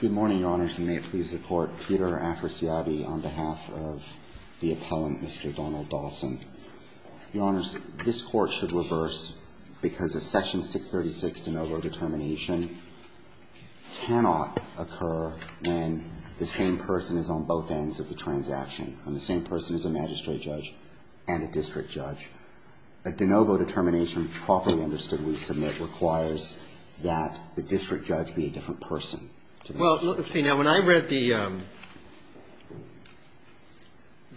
Good morning, Your Honors, and may it please the Court, Peter Afrasiabi on behalf of the appellant, Mr. Donald Dawson. Your Honors, this Court should reverse because a Section 636 de novo determination cannot occur when the same person is on both ends of the transaction, when the same person is a magistrate judge and a district judge. A de novo determination properly understood when we submit requires that the district judge be a different person to the magistrate judge. Well, let's see. Now, when I read the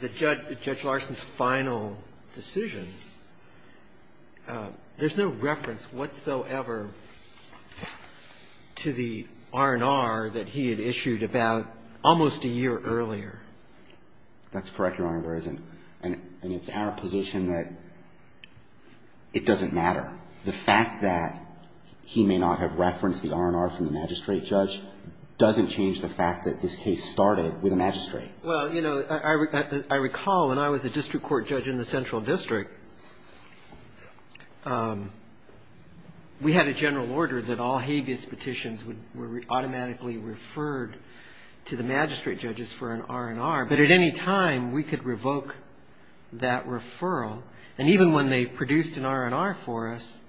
Judge Larson's final decision, there's no reference whatsoever to the R&R that he had issued about almost a year earlier. That's correct, Your Honor. There isn't. And it's our position that it doesn't matter. The fact that he may not have referenced the R&R from the magistrate judge doesn't change the fact that this case started with a magistrate. Well, you know, I recall when I was a district court judge in the Central District, we had a general order that all habeas petitions were automatically referred to the magistrate judges for an R&R. But at any time, we could revoke that referral. And even when they produced an R&R for us,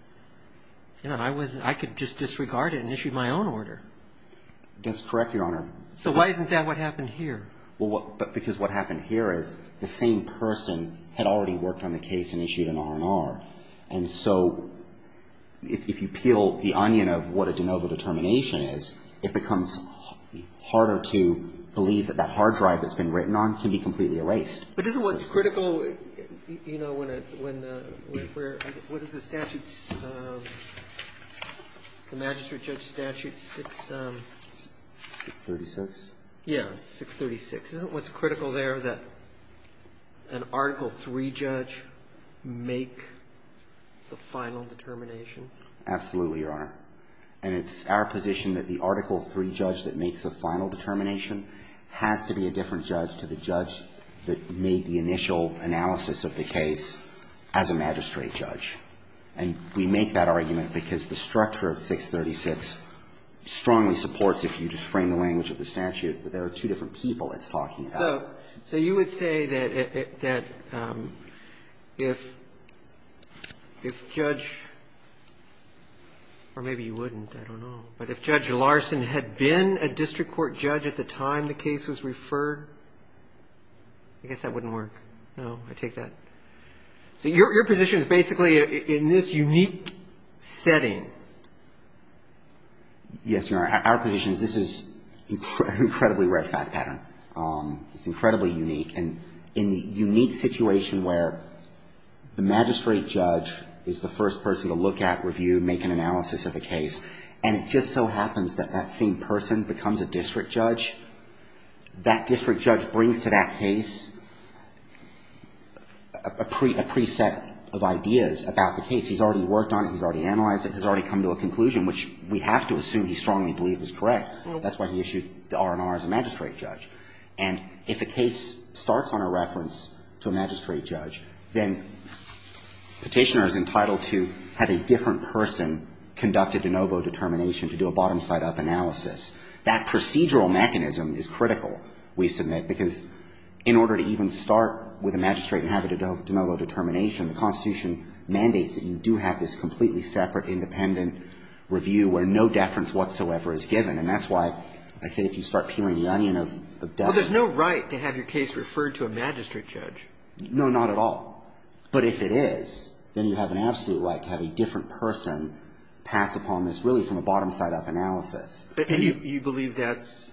you know, I was – I could just disregard it and issue my own order. That's correct, Your Honor. So why isn't that what happened here? Well, because what happened here is the same person had already worked on the case and issued an R&R. And so if you peel the onion of what a de novo determination is, it becomes harder to believe that that hard drive that's been written on can be completely erased. But isn't what's critical, you know, when the – where – what is the statute's – the magistrate judge statute 636? Yeah, 636. Isn't what's critical there that an Article III judge make the final determination? Absolutely, Your Honor. And it's our position that the Article III judge that makes the final determination has to be a different judge to the judge that made the initial analysis of the case as a magistrate judge. And we make that argument because the structure of 636 strongly supports, if you just frame the language of the statute, that there are two different people it's talking about. So you would say that if Judge – or maybe you wouldn't, I don't know. But if Judge Larson had been a district court judge at the time the case was referred, I guess that wouldn't work. No, I take that. So your position is basically in this unique setting. Yes, Your Honor. Our position is this is an incredibly rare fact pattern. It's incredibly unique. And in the unique situation where the magistrate judge is the first person to look at, review, make an analysis of a case, and it just so happens that that same person becomes a district judge, that district judge brings to that case a pre-set of ideas about the case. He's already worked on it. He's already analyzed it. He's already come to a conclusion, which we have to assume he strongly believed was correct. That's why he issued the R&R as a magistrate judge. And if a case starts on a reference to a magistrate judge, then Petitioner is entitled to have a different person conduct a de novo determination to do a bottom side-up analysis. That procedural mechanism is critical, we submit, because in order to even start with a magistrate and have a de novo determination, the Constitution mandates that you do have this completely separate independent review where no deference whatsoever is given. And that's why I say if you start peeling the onion of deference. Well, there's no right to have your case referred to a magistrate judge. No, not at all. But if it is, then you have an absolute right to have a different person pass upon this really from a bottom side-up analysis. And you believe that's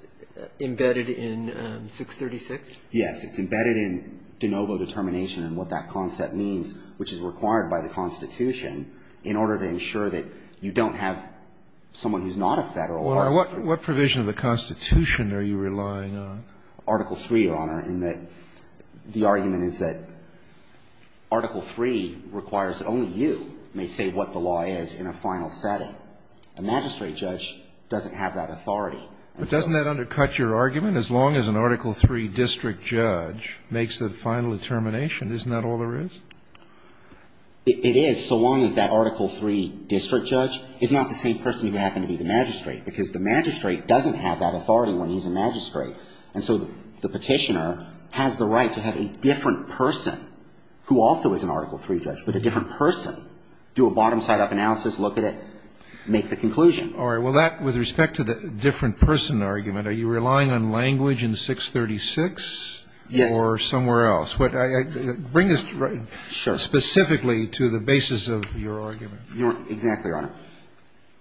embedded in 636? Yes, it's embedded in de novo determination and what that concept means, which is that you have to have the authority required by the Constitution in order to ensure that you don't have someone who is not a Federal article. Well, what provision of the Constitution are you relying on? Article III, Your Honor, in that the argument is that Article III requires that only you may say what the law is in a final setting. A magistrate judge doesn't have that authority. But doesn't that undercut your argument? As long as an Article III district judge makes the final determination, isn't that all there is? It is, so long as that Article III district judge is not the same person who happened to be the magistrate, because the magistrate doesn't have that authority when he's a magistrate. And so the Petitioner has the right to have a different person who also is an Article III judge, but a different person, do a bottom-side-up analysis, look at it, make the conclusion. All right. Well, that, with respect to the different person argument, are you relying on language in 636? Yes. Or somewhere else? Bring us specifically to the basis of your argument. Exactly, Your Honor.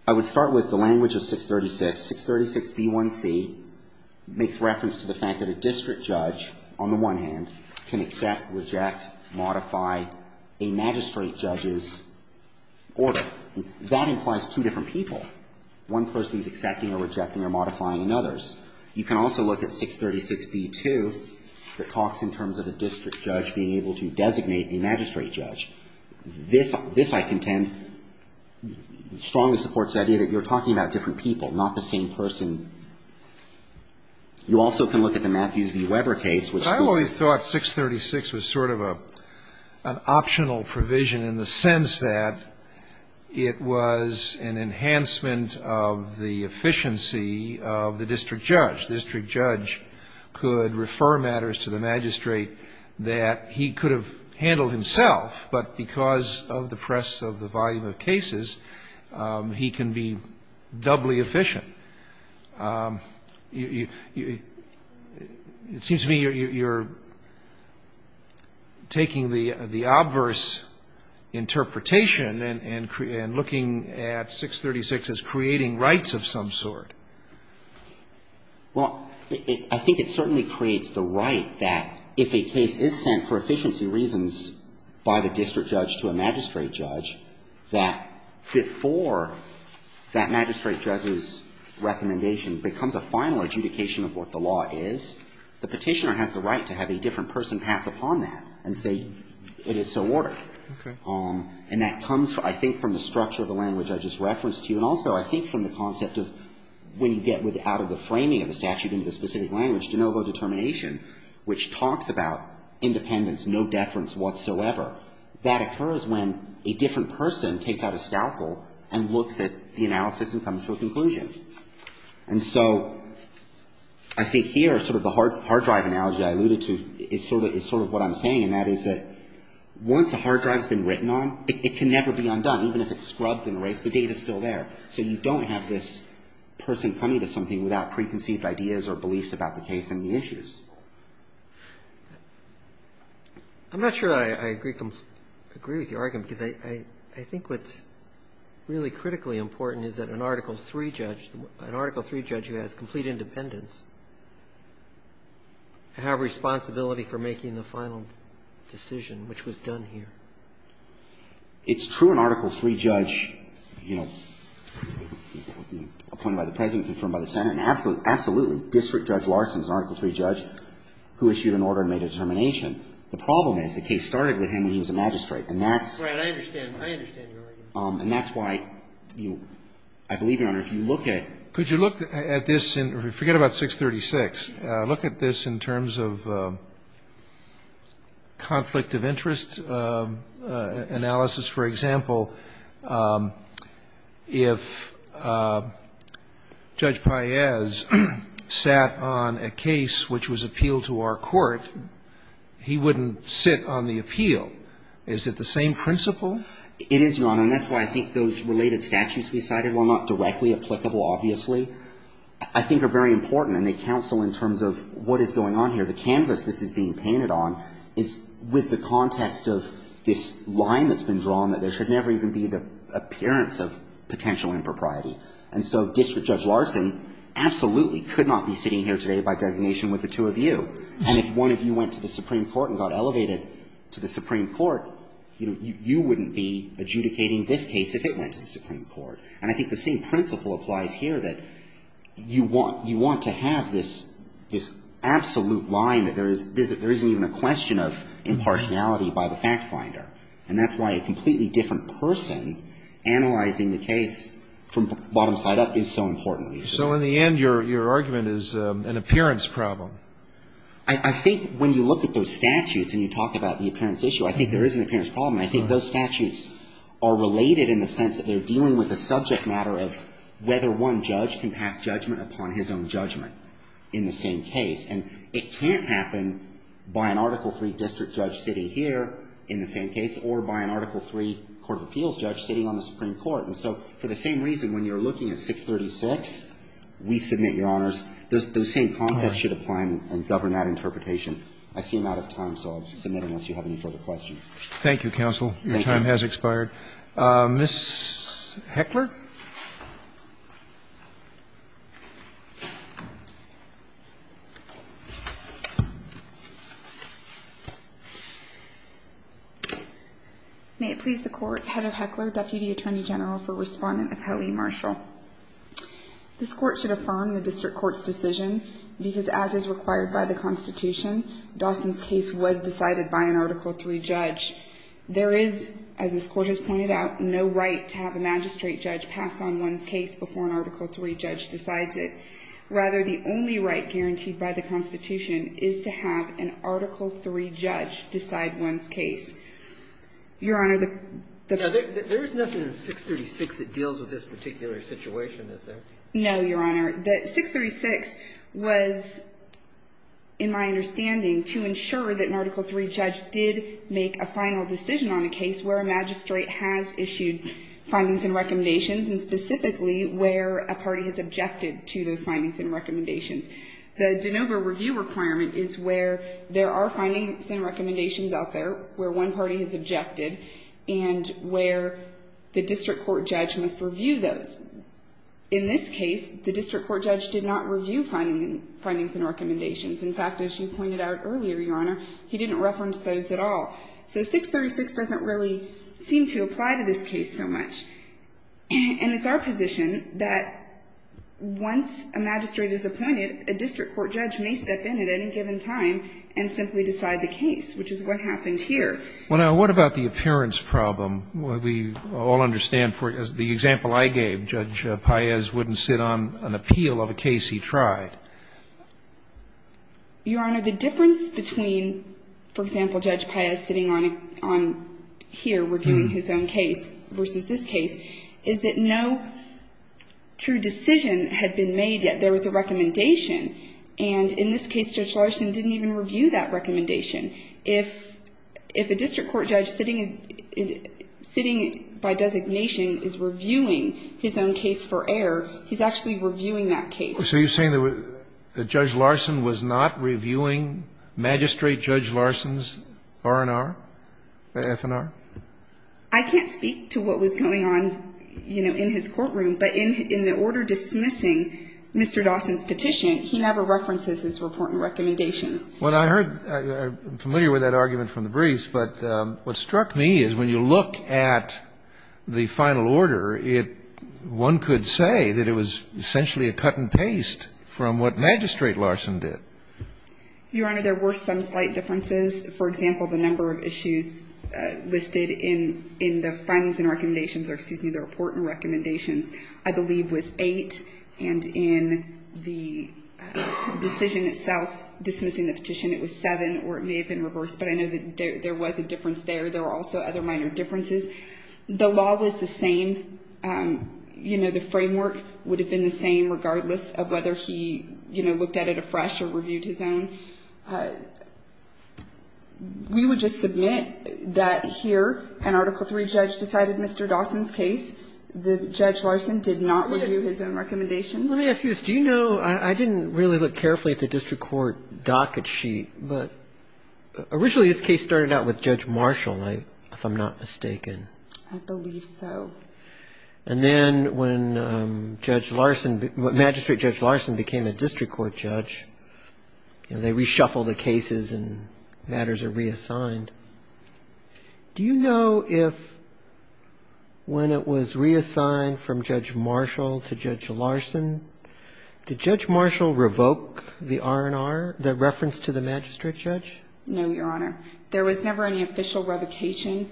I would start with the language of 636. 636b1c makes reference to the fact that a district judge, on the one hand, can accept, reject, modify a magistrate judge's order. That implies two different people. One person is accepting or rejecting or modifying another's. You can also look at 636b2 that talks in terms of a district judge being able to designate a magistrate judge. This, I contend, strongly supports the idea that you're talking about different people, not the same person. You also can look at the Matthews v. Weber case, which was the same. But I always thought 636 was sort of an optional provision in the sense that it was an enhancement of the efficiency of the district judge. The district judge could refer matters to the magistrate that he could have handled himself, but because of the press of the volume of cases, he can be doubly efficient. It seems to me you're taking the obverse interpretation and looking at a magistrate judge, 636, as creating rights of some sort. Well, I think it certainly creates the right that if a case is sent for efficiency reasons by the district judge to a magistrate judge, that before that magistrate judge's recommendation becomes a final adjudication of what the law is, the Petitioner has the right to have a different person pass upon that and say it is so ordered. Okay. And that comes, I think, from the structure of the language I just referenced to you. And also I think from the concept of when you get out of the framing of the statute into the specific language, de novo determination, which talks about independence, no deference whatsoever, that occurs when a different person takes out a scalpel and looks at the analysis and comes to a conclusion. And so I think here sort of the hard drive analogy I alluded to is sort of what I'm saying, and that is that once a hard drive's been written on, it can never be undone, even if it's scrubbed and erased. The data's still there. So you don't have this person coming to something without preconceived ideas or beliefs about the case and the issues. I'm not sure I agree with your argument, because I think what's really critically important is that an Article III judge, an Article III judge who has complete independence, have responsibility for making the final decision, which was done here. It's true an Article III judge, you know, appointed by the President, confirmed by the Senate, and absolutely, absolutely, District Judge Larson is an Article III judge who issued an order and made a determination. The problem is the case started with him when he was a magistrate, and that's Right. I understand. I understand your argument. And that's why I believe, Your Honor, if you look at Could you look at this and forget about 636. Look at this in terms of conflict of interest analysis. For example, if Judge Paez sat on a case which was appealed to our court, he wouldn't sit on the appeal. Is it the same principle? It is, Your Honor, and that's why I think those related statutes we cited are not directly applicable, obviously, I think are very important, and they counsel in terms of what is going on here. The canvas this is being painted on is with the context of this line that's been drawn, that there should never even be the appearance of potential impropriety. And so District Judge Larson absolutely could not be sitting here today by designation with the two of you. And if one of you went to the Supreme Court and got elevated to the Supreme Court, you know, you wouldn't be adjudicating this case if it went to the Supreme Court. And I think the same principle applies here, that you want to have this absolute line that there isn't even a question of impartiality by the fact finder. And that's why a completely different person analyzing the case from the bottom side up is so important. So in the end, your argument is an appearance problem. I think when you look at those statutes and you talk about the appearance issue, I think there is an appearance problem. And I think those statutes are related in the sense that they're dealing with a subject matter of whether one judge can pass judgment upon his own judgment in the same case. And it can't happen by an Article III district judge sitting here in the same case or by an Article III court of appeals judge sitting on the Supreme Court. And so for the same reason, when you're looking at 636, we submit, Your Honors, those same concepts should apply and govern that interpretation. I see I'm out of time, so I'll just submit unless you have any further questions. Thank you, counsel. Thank you. Your time has expired. Ms. Heckler. May it please the Court, Heather Heckler, Deputy Attorney General for Respondent of Heli Marshall. This Court should affirm the district court's decision because as is required by the Constitution, Dawson's case was decided by an Article III judge. There is, as this Court has pointed out, no right to have a magistrate judge pass on one's case before an Article III judge decides it. Rather, the only right guaranteed by the Constitution is to have an Article III judge decide one's case. Your Honor, the ---- There is nothing in 636 that deals with this particular situation, is there? No, Your Honor. The 636 was, in my understanding, to ensure that an Article III judge did make a final decision on a case where a magistrate has issued findings and recommendations, and specifically where a party has objected to those findings and recommendations. The Denova review requirement is where there are findings and recommendations out there where one party has objected and where the district court judge must review those. In this case, the district court judge did not review findings and recommendations. In fact, as you pointed out earlier, Your Honor, he didn't reference those at all. So 636 doesn't really seem to apply to this case so much. And it's our position that once a magistrate is appointed, a district court judge may step in at any given time and simply decide the case, which is what happened here. Well, now, what about the appearance problem? We all understand, as the example I gave, Judge Paez wouldn't sit on an appeal of a case he tried. Your Honor, the difference between, for example, Judge Paez sitting on here reviewing his own case versus this case, is that no true decision had been made yet. There was a recommendation. And in this case, Judge Larson didn't even review that recommendation. If a district court judge sitting by designation is reviewing his own case for error, he's actually reviewing that case. So you're saying that Judge Larson was not reviewing Magistrate Judge Larson's R&R, the F&R? I can't speak to what was going on, you know, in his courtroom. But in the order dismissing Mr. Dawson's petition, he never references his report and recommendations. Well, I heard, I'm familiar with that argument from the briefs. But what struck me is when you look at the final order, one could say that it was essentially a cut and paste from what Magistrate Larson did. Your Honor, there were some slight differences. For example, the number of issues listed in the findings and recommendations or, excuse me, the report and recommendations, I believe, was eight. And in the decision itself dismissing the petition, it was seven, or it may have been reversed. But I know that there was a difference there. There were also other minor differences. The law was the same. You know, the framework would have been the same regardless of whether he, you know, looked at it afresh or reviewed his own. We would just submit that here an Article III judge decided Mr. Dawson's case. The Judge Larson did not review his own recommendations. Let me ask you this. Do you know, I didn't really look carefully at the district court docket sheet, but originally this case started out with Judge Marshall, if I'm not mistaken. I believe so. And then when Judge Larson, Magistrate Judge Larson became a district court judge, they reshuffle the cases and matters are reassigned. Do you know if when it was reassigned from Judge Marshall to Judge Larson, did Judge Marshall revoke the R&R, the reference to the magistrate judge? No, Your Honor. There was never any official revocation.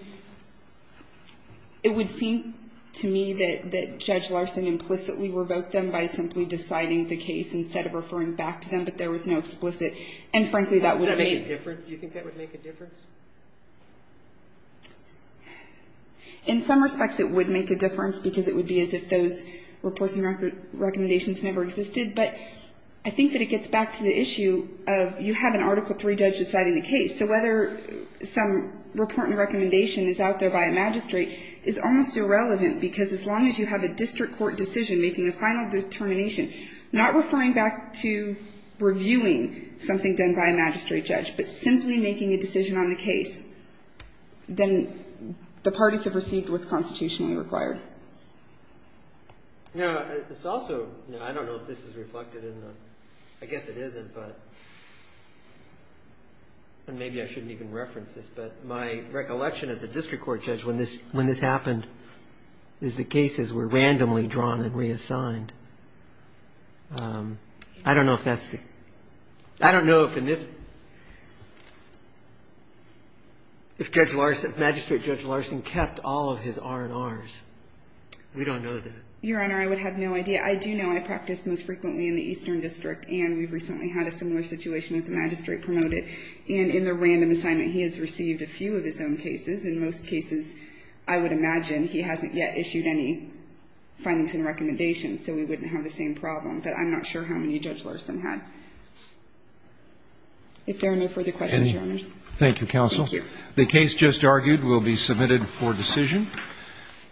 It would seem to me that Judge Larson implicitly revoked them by simply deciding the case instead of referring back to them, but there was no explicit. And frankly, that would make a difference. Do you think that would make a difference? In some respects, it would make a difference because it would be as if those reports and recommendations never existed. But I think that it gets back to the issue of you have an Article III judge deciding the case, so whether some report and recommendation is out there by a magistrate is almost irrelevant because as long as you have a district court decision making a final determination, not referring back to reviewing something done by a magistrate judge, but simply making a decision on the case, then the parties have received what's constitutionally required. Now, this also – I don't know if this is reflected in the – I guess it isn't, but – and maybe I shouldn't even reference this, but my recollection as a district court judge when this happened is the cases were randomly drawn and reassigned. I don't know if that's the – I don't know if in this – if Judge Larson – if Magistrate Judge Larson kept all of his R&Rs. We don't know that. Your Honor, I would have no idea. I do know I practice most frequently in the Eastern District, and we've recently had a similar situation with the magistrate promoted, and in the random assignment he has received a few of his own cases. In most cases, I would imagine he hasn't yet issued any findings and recommendations, so we wouldn't have the same problem, but I'm not sure how many Judge Larson had. If there are no further questions, Your Honors. Thank you, Counsel. Thank you. The case just argued will be submitted for decision.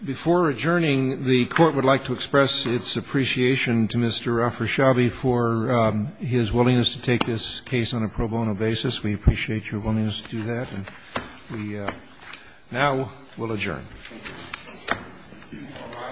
Before adjourning, the Court would like to express its appreciation to Mr. Afreshabi for his willingness to take this case on a pro bono basis. We appreciate your willingness to do that, and we now will adjourn. Is this all right?